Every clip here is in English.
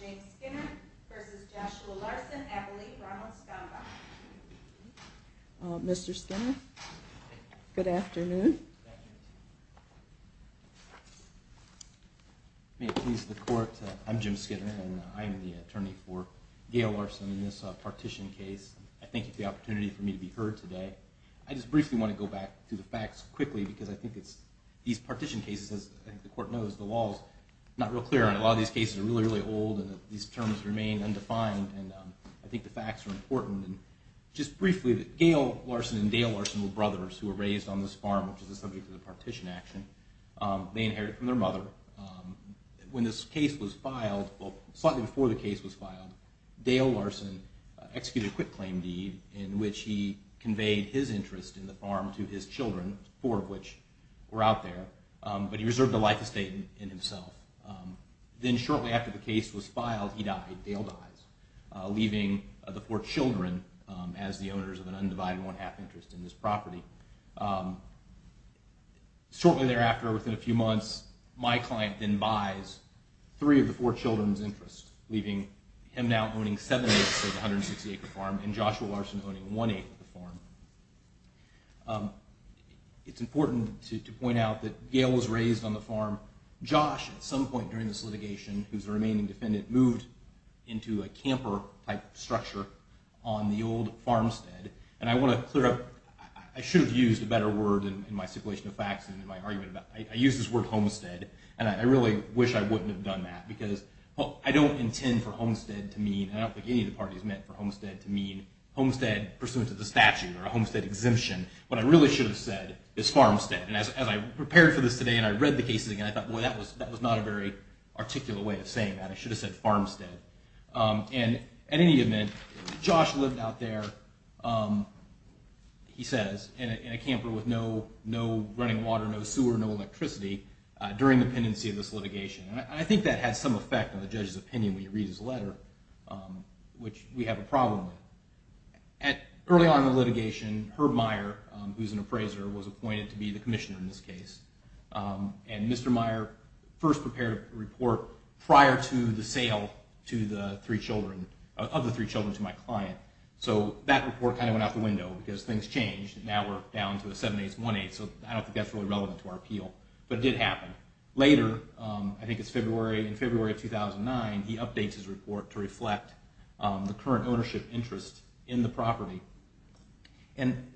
James Skinner v. Joshua Larson, Abilene, Ronald, Skaga Mr. Skinner, good afternoon. May it please the court, I'm Jim Skinner and I'm the attorney for Gail Larson in this partition case. I thank you for the opportunity for me to be heard today. I just briefly want to go back through the facts quickly because I think it's these partition cases, as the court knows, the law is not real clear and a lot of these cases are really, really old and these terms remain undefined and I think the facts are important. Just briefly, Gail Larson and Dale Larson were brothers who were raised on this farm, which is the subject of the partition action. They inherited from their mother. When this case was filed, well, slightly before the case was filed, Dale Larson executed a quit claim deed in which he conveyed his interest in the farm to his children, four of which were out there, but he reserved a life estate in himself. Then shortly after the case was filed, he died, Dale died, leaving the four children as the owners of an undivided one-half interest in this property. Shortly thereafter, within a few months, my client then buys three of the four children's interests, leaving him now owning seven-eighths of the 160-acre farm and Joshua Larson owning one-eighth of the farm. It's important to point out that Gail was raised on the farm. Josh, at some point during this litigation, who's the remaining defendant, moved into a camper-type structure on the old farmstead and I want to clear up, I should have used a better word in my stipulation of facts and in my argument, I used this word homestead and I really wish I wouldn't have done that because I don't intend for homestead to mean, I don't think any of the parties meant for homestead to mean homestead pursuant to the statute or a homestead exemption. What I really should have said is farmstead and as I prepared for this today and I read the cases again, I thought, boy, that was not a very articulate way of saying that. I should have said farmstead. And in any event, Josh lived out there, he says, in a camper with no running water, no sewer, no electricity during the pendency of this litigation. And I think that had some effect on the judge's opinion when he reads his letter, which we have a problem with. Early on in the litigation, Herb Meyer, who's an appraiser, was appointed to be the commissioner in this case and Mr. Meyer first prepared a report prior to the sale of the three children to my client. So that report kind of went out the window because things changed and now we're down to a 7-8s and 1-8s so I don't think that's really relevant to our appeal, but it did happen. Later, I think it's February, in February of 2009, he updates his report to reflect the current ownership interest in the property. And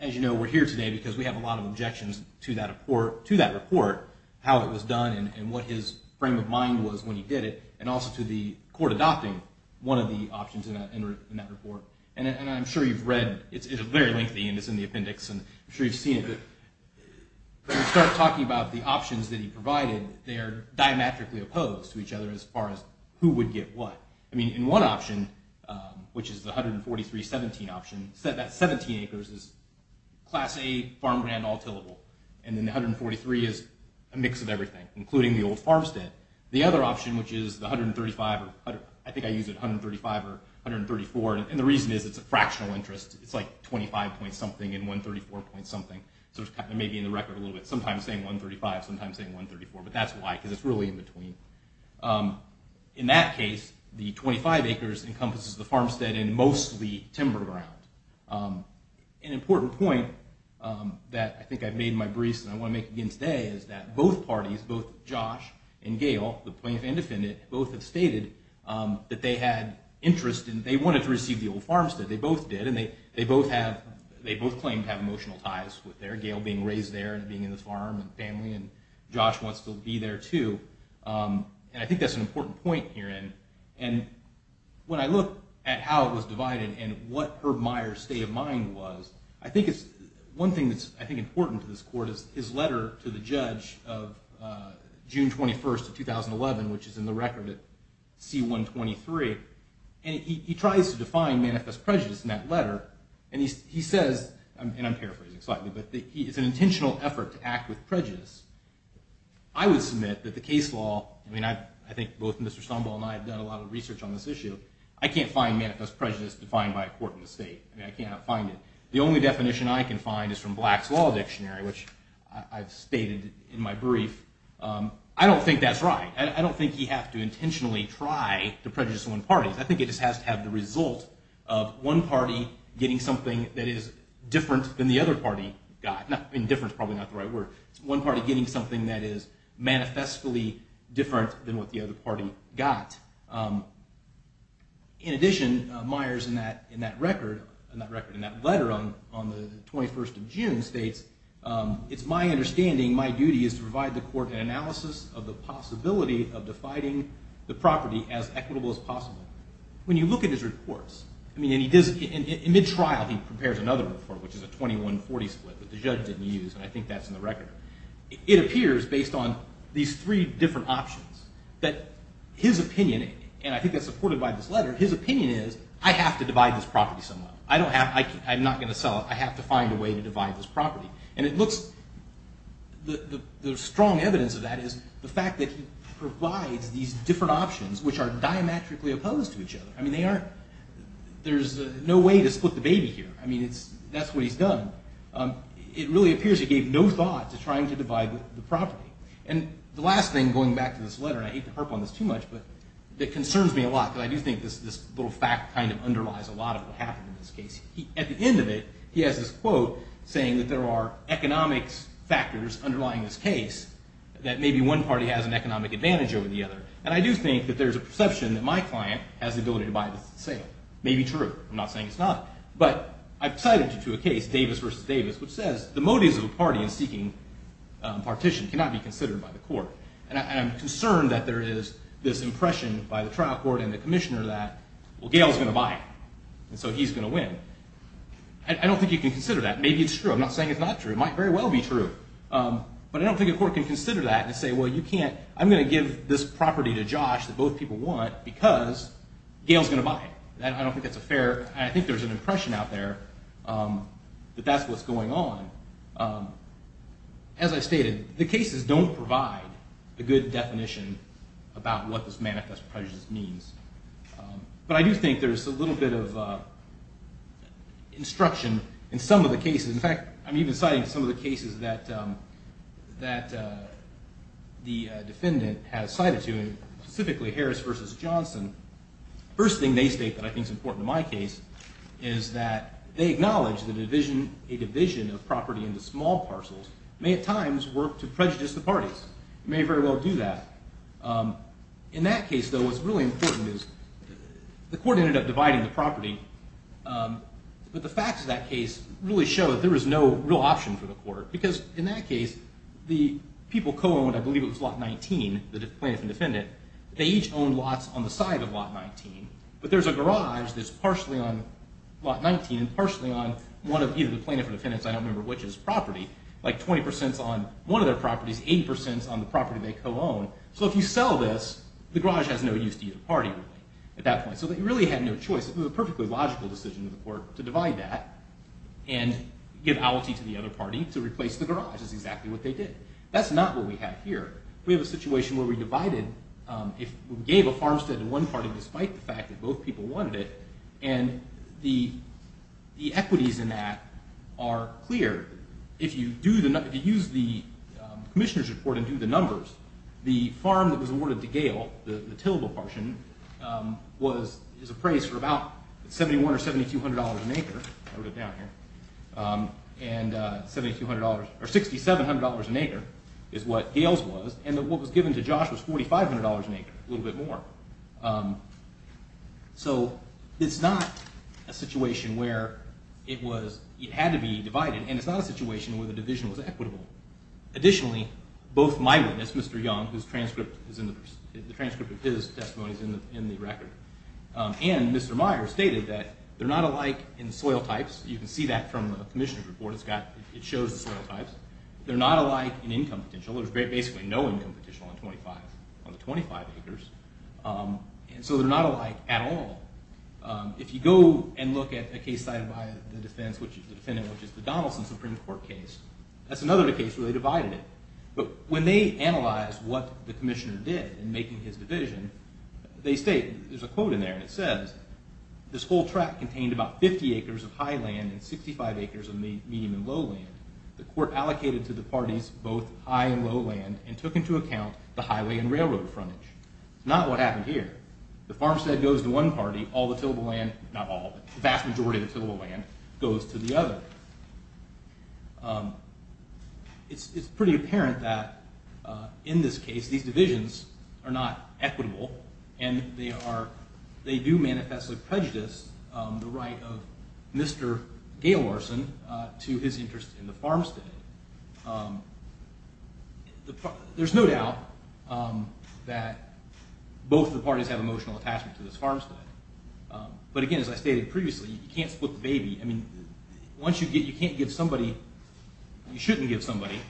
as you know, we're here today because we have a lot of objections to that report, how it was done and what his frame of mind was when he did it and also to the court adopting one of the options in that report. And I'm sure you've read, it's very lengthy and it's in the appendix and I'm sure you've seen it, but when you start talking about the options that he provided, they are diametrically opposed to each other as far as who would get what. I mean, in one option, which is the 143-17 option, that 17 acres is Class A farmland all tillable and then the 143 is a mix of everything, including the old farmstead. The other option, which is the 135, I think I use it 135 or 134, and the reason is it's a fractional interest. It's like 25 point something and 134 point something, so it may be in the record a little bit. Sometimes saying 135, sometimes saying 134, but that's why, because it's really in between. In that case, the 25 acres encompasses the farmstead and mostly timber ground. An important point that I think I've made in my briefs and I want to make again today is that both parties, both Josh and Gail, the plaintiff and defendant, both have stated that they had interest in, they wanted to receive the old farmstead. They both did and they both claim to have emotional ties with their Gail being raised there and being in the farm and family and Josh wants to be there too. I think that's an important point here. When I look at how it was divided and what Herb Meyer's state of mind was, I think one thing that's important to this court is his letter to the judge of June 21st of 2011, which is in the record at C-123, and he tries to define manifest prejudice in that letter. He says, and I'm paraphrasing slightly, but it's an intentional effort to act with prejudice. I would submit that the case law, I think both Mr. Stonewall and I have done a lot of research on this issue, I can't find manifest prejudice defined by a court in the state. I mean, I cannot find it. The only definition I can find is from Black's Law Dictionary, which I've stated in my brief. I don't think that's right. I don't think you have to intentionally try to prejudice one party. I think it just has to have the result of one party getting something that is different than the other party got. I mean, different is probably not the right word. It's one party getting something that is manifestly different than what the other party got. In addition, Meyer's in that record, in that letter on the 21st of June states, it's my understanding my duty is to provide the court an analysis of the possibility of defining the property as equitable as possible. When you look at his reports, I mean, and he does, in mid-trial he prepares another report, which is a 21-40 split that the judge didn't use, and I think that's in the record. It appears, based on these three different options, that his opinion, and I think that's supported by this letter, his opinion is, I have to divide this property somehow. I don't have, I'm not going to sell it. I have to find a way to divide this property. And it looks, the strong evidence of that is the fact that he provides these different options, which are diametrically opposed to each other. I mean, they aren't, there's no way to split the baby here. I mean, that's what he's done. It really appears he gave no thought to trying to divide the property. And the last thing, going back to this letter, and I hate to harp on this too much, but it concerns me a lot because I do think this little fact kind of underlies a lot of what happened in this case. At the end of it, he has this quote saying that there are economics factors underlying this case that maybe one party has an economic advantage over the other. And I do think that there's a perception that my client has the ability to buy this and sell it. It may be true. I'm not saying it's not. But I've cited to a case, Davis v. Davis, which says the motives of a party in seeking partition cannot be considered by the court. And I'm concerned that there is this impression by the trial court and the commissioner that, well, Gail's going to buy it, and so he's going to win. I don't think you can consider that. Maybe it's true. I'm not saying it's not true. It might very well be true. But I don't think a court can consider that and say, well, you can't, I'm going to give this property to Josh that both people want because Gail's going to buy it. I don't think that's a fair, I think there's an impression out there that that's what's going on. As I stated, the cases don't provide a good definition about what this manifest prejudice means. But I do think there's a little bit of instruction in some of the cases. In fact, I'm even citing some of the cases that the defendant has cited to him, specifically Harris v. Johnson. First thing they state that I think is important in my case is that they acknowledge that a division of property into small parcels may at times work to prejudice the parties. It may very well do that. In that case, though, what's really important is the court ended up dividing the property, but the facts of that case really show that there was no real option for the court because in that case the people co-owned, I believe it was Lot 19, the plaintiff and defendant, they each owned lots on the side of Lot 19, but there's a garage that's partially on Lot 19 and partially on one of either the plaintiff or defendant's, I don't remember which, property. Like 20% is on one of their properties, 80% is on the property they co-own. So if you sell this, the garage has no use to either party at that point. So they really had no choice. It was a perfectly logical decision of the court to divide that and give ality to the other party to replace the garage. That's exactly what they did. That's not what we have here. We have a situation where we gave a farmstead to one party despite the fact that both people wanted it, and the equities in that are clear. If you use the commissioner's report and do the numbers, the farm that was awarded to Gale, the Tillable portion, is appraised for about $7,100 or $7,200 an acre. I wrote it down here. $7,200 or $6,700 an acre is what Gale's was, and what was given to Josh was $4,500 an acre, a little bit more. So it's not a situation where it had to be divided, and it's not a situation where the division was equitable. Additionally, both my witness, Mr. Young, whose transcript of his testimony is in the record, and Mr. Myers stated that they're not alike in soil types. You can see that from the commissioner's report. It shows the soil types. They're not alike in income potential. There's basically no income potential on the 25 acres, and so they're not alike at all. If you go and look at a case cited by the defendant, which is the Donaldson Supreme Court case, that's another case where they divided it. But when they analyzed what the commissioner did in making his division, they state, there's a quote in there, and it says, this whole tract contained about 50 acres of high land and 65 acres of medium and low land. The court allocated to the parties both high and low land and took into account the highway and railroad frontage. Not what happened here. The farmstead goes to one party, all the tillable land, not all, but the vast majority of the tillable land goes to the other. It's pretty apparent that in this case, these divisions are not equitable, and they do manifest a prejudice, the right of Mr. Gaylarson to his interest in the farmstead. There's no doubt that both the parties have emotional attachment to this farmstead. But again, as I stated previously, you can't split the baby. I mean, once you get, you can't give somebody, you shouldn't give somebody.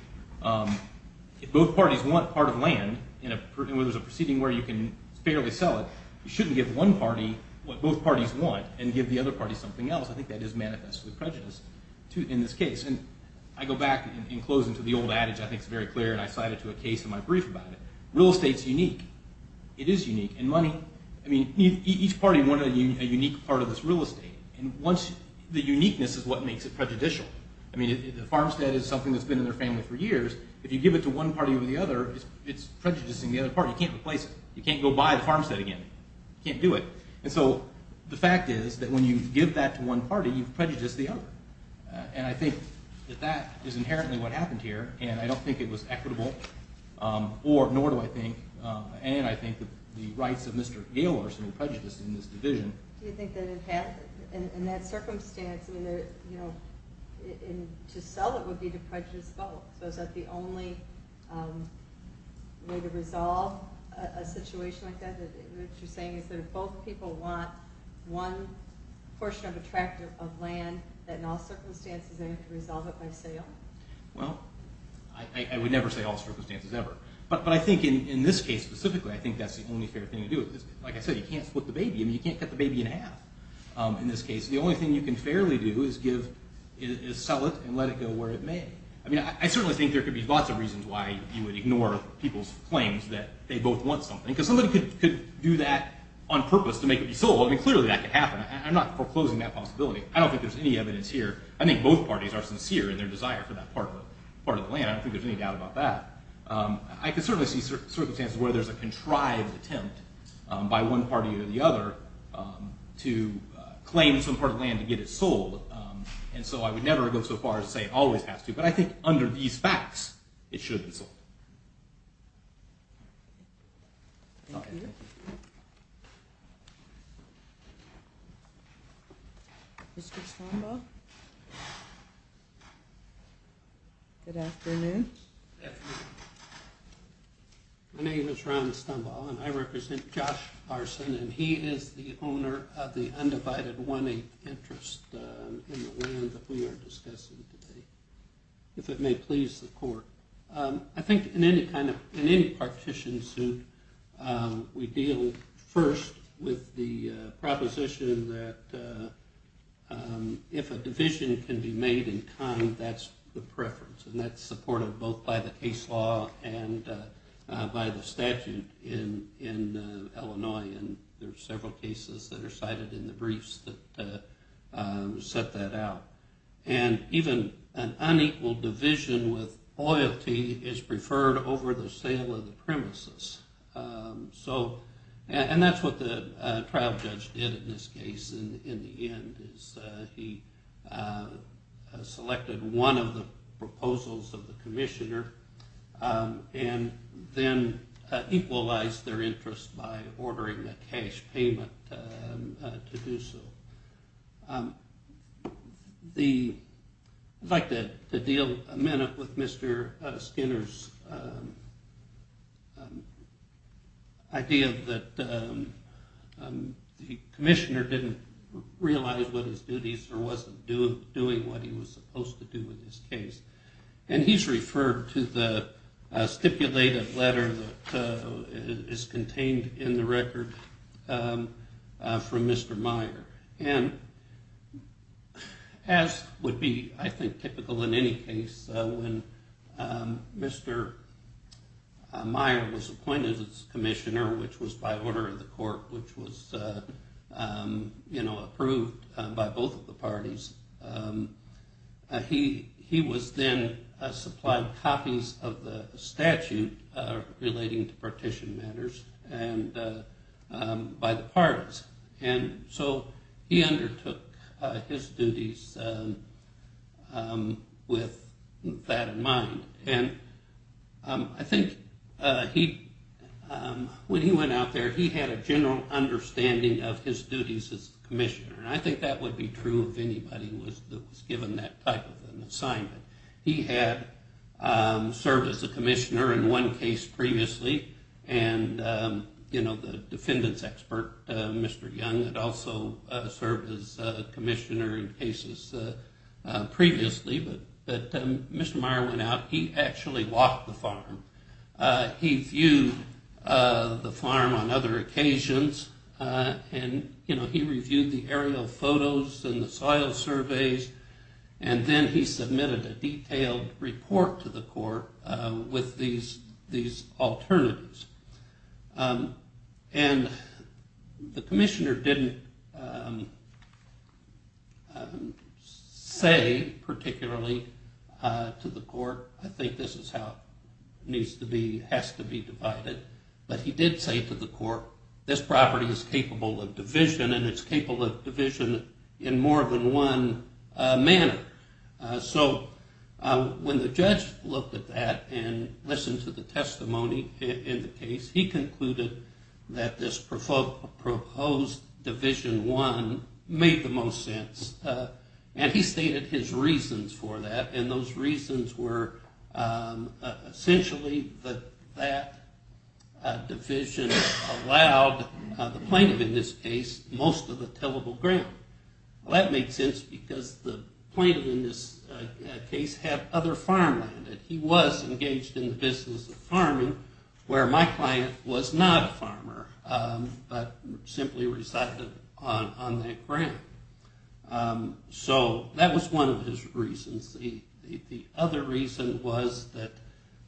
If both parties want part of land, and there's a proceeding where you can fairly sell it, you shouldn't give one party what both parties want and give the other party something else. I think that is manifestly prejudiced in this case. And I go back and close into the old adage I think is very clear, and I cite it to a case in my brief about it. Real estate's unique. It is unique. And money, I mean, each party wanted a unique part of this real estate. And once, the uniqueness is what makes it prejudicial. I mean, the farmstead is something that's been in their family for years. If you give it to one party over the other, it's prejudicing the other party. You can't replace it. You can't go buy the farmstead again. You can't do it. And so the fact is that when you give that to one party, you've prejudiced the other. And I think that that is inherently what happened here, and I don't think it was equitable, nor do I think, and I think the rights of Mr. Gaylarson are prejudiced in this division. Do you think that in that circumstance, to sell it would be to prejudice both? So is that the only way to resolve a situation like that? What you're saying is that if both people want one portion of a tract of land, that in all circumstances they have to resolve it by sale? Well, I would never say all circumstances ever. But I think in this case specifically, I think that's the only fair thing to do. Like I said, you can't split the baby. I mean, you can't cut the baby in half in this case. The only thing you can fairly do is sell it and let it go where it may. I mean, I certainly think there could be lots of reasons why you would ignore people's claims that they both want something, because somebody could do that on purpose to make it be sold. I mean, clearly that could happen. I'm not foreclosing that possibility. I don't think there's any evidence here. I think both parties are sincere in their desire for that part of the land. I don't think there's any doubt about that. I can certainly see circumstances where there's a contrived attempt by one party or the other to claim some part of the land to get it sold. And so I would never go so far as to say it always has to. But I think under these facts, it should have been sold. Thank you. Mr. Strombaugh? Good afternoon. Good afternoon. My name is Ron Strombaugh, and I represent Josh Carson, and he is the owner of the undivided 1-8 interest in the land that we are discussing today, if it may please the court. I think in any kind of ñ in any partition suit, we deal first with the proposition that if a division can be made in kind, that's the preference, and that's supported both by the case law and by the statute in Illinois, and there are several cases that are cited in the briefs that set that out. And even an unequal division with loyalty is preferred over the sale of the premises. And that's what the trial judge did in this case in the end, is he selected one of the proposals of the commissioner and then equalized their interest by ordering a cash payment to do so. The ñ I'd like to deal a minute with Mr. Skinner's idea that the commissioner didn't realize what his duties or wasn't doing what he was supposed to do in this case. And he's referred to the stipulated letter that is contained in the record from Mr. Meyer. And as would be, I think, typical in any case, when Mr. Meyer was appointed as commissioner, which was by order of the court, which was, you know, approved by both of the parties, he was then supplied copies of the statute relating to partition matters by the parties. And so he undertook his duties with that in mind. And I think when he went out there, he had a general understanding of his duties as commissioner, and I think that would be true of anybody who was given that type of an assignment. He had served as a commissioner in one case previously, and, you know, the defendants expert, Mr. Young, had also served as commissioner in cases previously. But Mr. Meyer went out, he actually walked the farm. He viewed the farm on other occasions. And, you know, he reviewed the aerial photos and the soil surveys, and then he submitted a detailed report to the court with these alternatives. And the commissioner didn't say particularly to the court, I think this is how it needs to be, has to be divided. But he did say to the court, this property is capable of division, and it's capable of division in more than one manner. So when the judge looked at that and listened to the testimony in the case, he concluded that this proposed Division I made the most sense. And he stated his reasons for that, and those reasons were essentially that that division allowed the plaintiff in this case most of the tillable ground. Well, that made sense because the plaintiff in this case had other farmland. He was engaged in the business of farming, where my client was not a farmer, but simply resided on that ground. So that was one of his reasons. The other reason was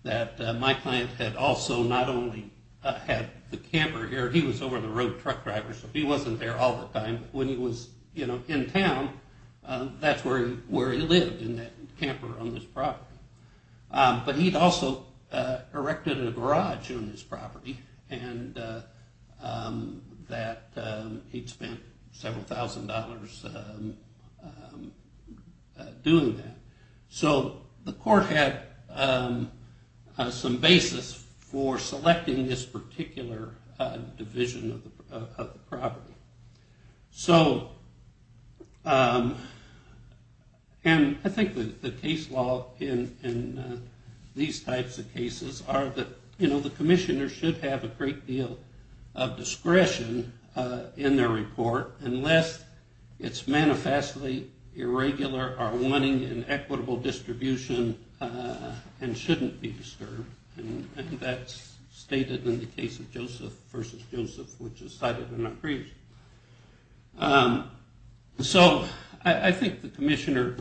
that my client had also not only had the camper here, he was over-the-road truck driver, so he wasn't there all the time, but when he was in town, that's where he lived, in that camper on this property. But he'd also erected a garage on this property, and he'd spent several thousand dollars doing that. So the court had some basis for selecting this particular division of the property. So, and I think the case law in these types of cases are that, you know, the commissioner should have a great deal of discretion in their report, unless it's manifestly irregular or wanting an equitable distribution and shouldn't be disturbed. And that's stated in the case of Joseph v. Joseph, which is cited in our briefs. So I think the commissioner,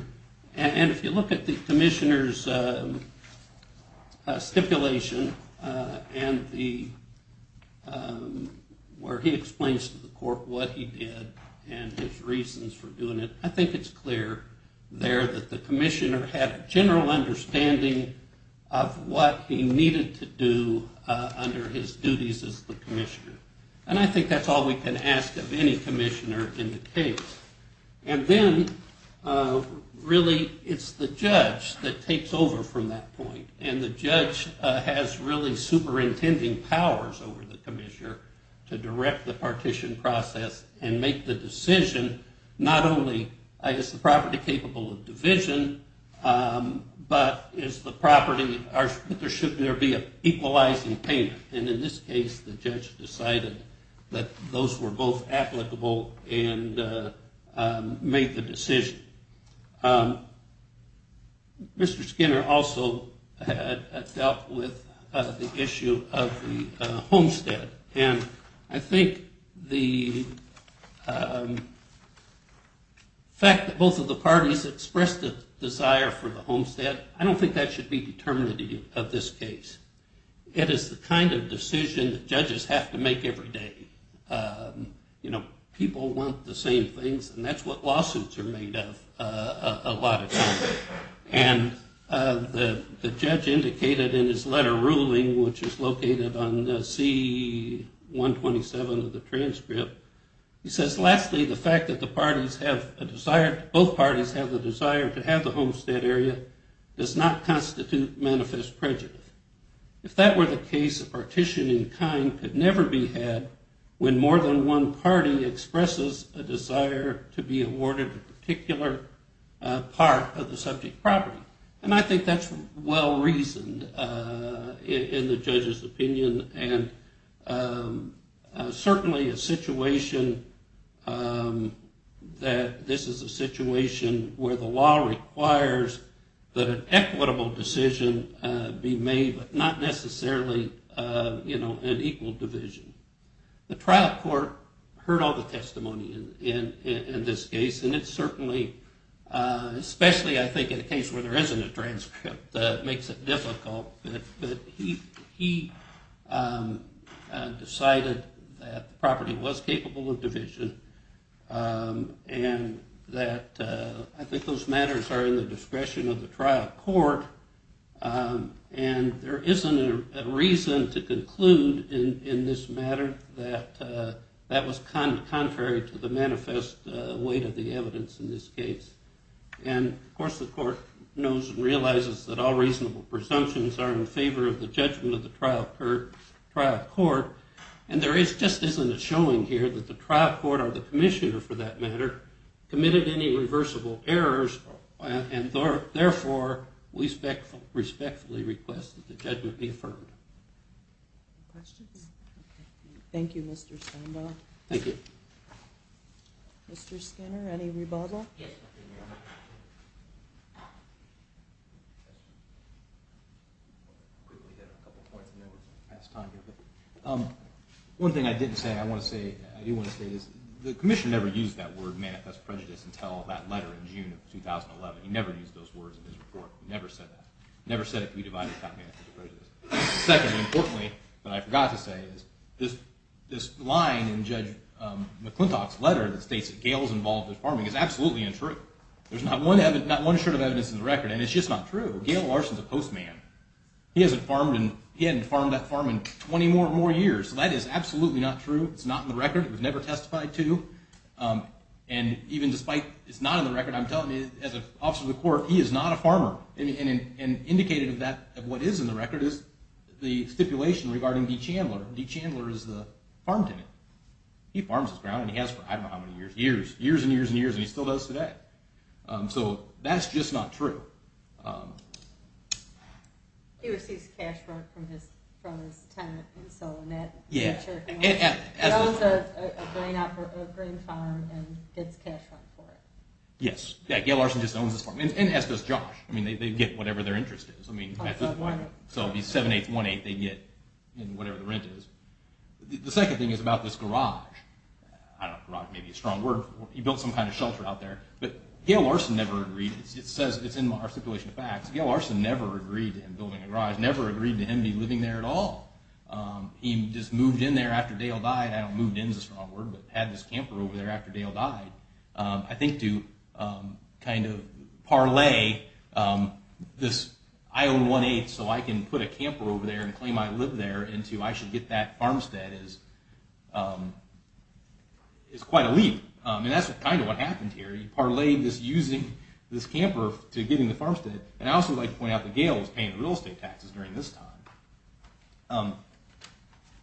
and if you look at the commissioner's stipulation, and where he explains to the court what he did and his reasons for doing it, I think it's clear there that the commissioner had a general understanding of what he needed to do under his duties as the commissioner. And I think that's all we can ask of any commissioner in the case. And then, really, it's the judge that takes over from that point, and the judge has really superintending powers over the commissioner to direct the partition process and make the decision not only is the property capable of division, but is the property, should there be an equalizing payment. And in this case, the judge decided that those were both applicable and made the decision. Mr. Skinner also dealt with the issue of the homestead. And I think the fact that both of the parties expressed a desire for the homestead, I don't think that should be determinative of this case. It is the kind of decision that judges have to make every day. People want the same things, and that's what lawsuits are made of a lot of times. And the judge indicated in his letter ruling, which is located on C-127 of the transcript, he says, lastly, the fact that both parties have the desire to have the homestead area does not constitute manifest prejudice. If that were the case, a partition in kind could never be had when more than one party expresses a desire to be awarded a particular part of the subject property. And I think that's well-reasoned in the judge's opinion, and certainly a situation that this is a situation where the law requires that an equitable decision be made, but not necessarily an equal division. The trial court heard all the testimony in this case, and it certainly, especially I think in a case where there isn't a transcript, makes it difficult. But he decided that the property was capable of division, and that I think those matters are in the discretion of the trial court, and there isn't a reason to conclude in this matter that that was contrary to the manifest weight of the evidence in this case. And of course the court knows and realizes that all reasonable presumptions are in favor of the judgment of the trial court, and there just isn't a showing here that the trial court, or the commissioner for that matter, committed any reversible errors, and therefore we respectfully request that the judgment be affirmed. Any questions? Thank you, Mr. Standahl. Thank you. Mr. Skinner, any rebuttal? Yes. One thing I didn't say, I want to say, I do want to say is the commissioner never used that word manifest prejudice until that letter in June of 2011. He never used those words in his report. He never said that. He never said it could be divided without manifest prejudice. Secondly, importantly, and I forgot to say, is this line in Judge McClintock's letter that states that Gale is involved in farming is absolutely untrue. There's not one shred of evidence in the record, and it's just not true. Gale Larson is a postman. He hasn't farmed that farm in 20 or more years, so that is absolutely not true. It's not in the record. It was never testified to. And even despite it's not in the record, I'm telling you, as an officer of the court, he is not a farmer. And indicated of that, of what is in the record, is the stipulation regarding Dee Chandler. Dee Chandler is the farm tenant. He farms his ground, and he has for I don't know how many years, years, years and years and years, and he still does today. So that's just not true. He receives cash from his tenant in Solonet. Yeah. He owns a grain farm and gets cash for it. Yes. Yeah, Gale Larson just owns this farm. And so does Josh. I mean, they get whatever their interest is. So it would be 7, 8, 1, 8 they get in whatever the rent is. The second thing is about this garage. I don't know, garage may be a strong word. He built some kind of shelter out there. But Gale Larson never agreed. It says it's in our stipulation of facts. Gale Larson never agreed to him building a garage, never agreed to him living there at all. He just moved in there after Dale died. I don't know if moved in is a strong word, but had this camper over there after Dale died. I think to kind of parlay this I own 1-8 so I can put a camper over there and claim I live there into I should get that farmstead is quite a leap. And that's kind of what happened here. You parlayed this using this camper to getting the farmstead. And I also would like to point out that Gale was paying the real estate taxes during this time.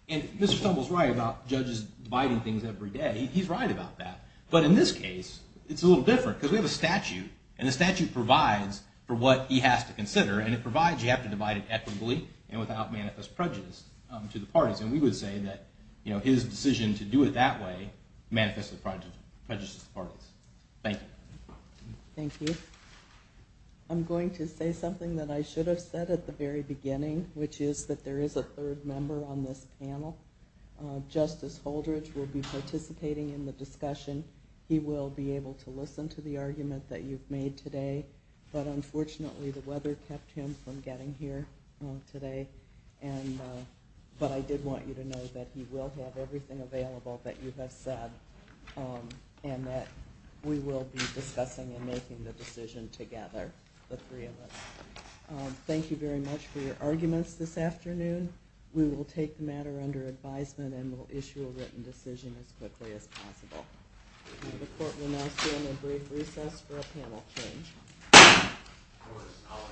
And Mr. Stumble is right about judges dividing things every day. He's right about that. But in this case, it's a little different because we have a statute. And the statute provides for what he has to consider. And it provides you have to divide it equitably and without manifest prejudice to the parties. And we would say that his decision to do it that way manifested prejudices to the parties. Thank you. Thank you. I'm going to say something that I should have said at the very beginning, which is that there is a third member on this panel. Justice Holdridge will be participating in the discussion. He will be able to listen to the argument that you've made today. But unfortunately, the weather kept him from getting here today. But I did want you to know that he will have everything available that you have said and that we will be discussing and making the decision together, the three of us. Thank you very much for your arguments this afternoon. We will take the matter under advisement and we'll issue a written decision as quickly as possible. The court will now stand at brief recess for a panel change.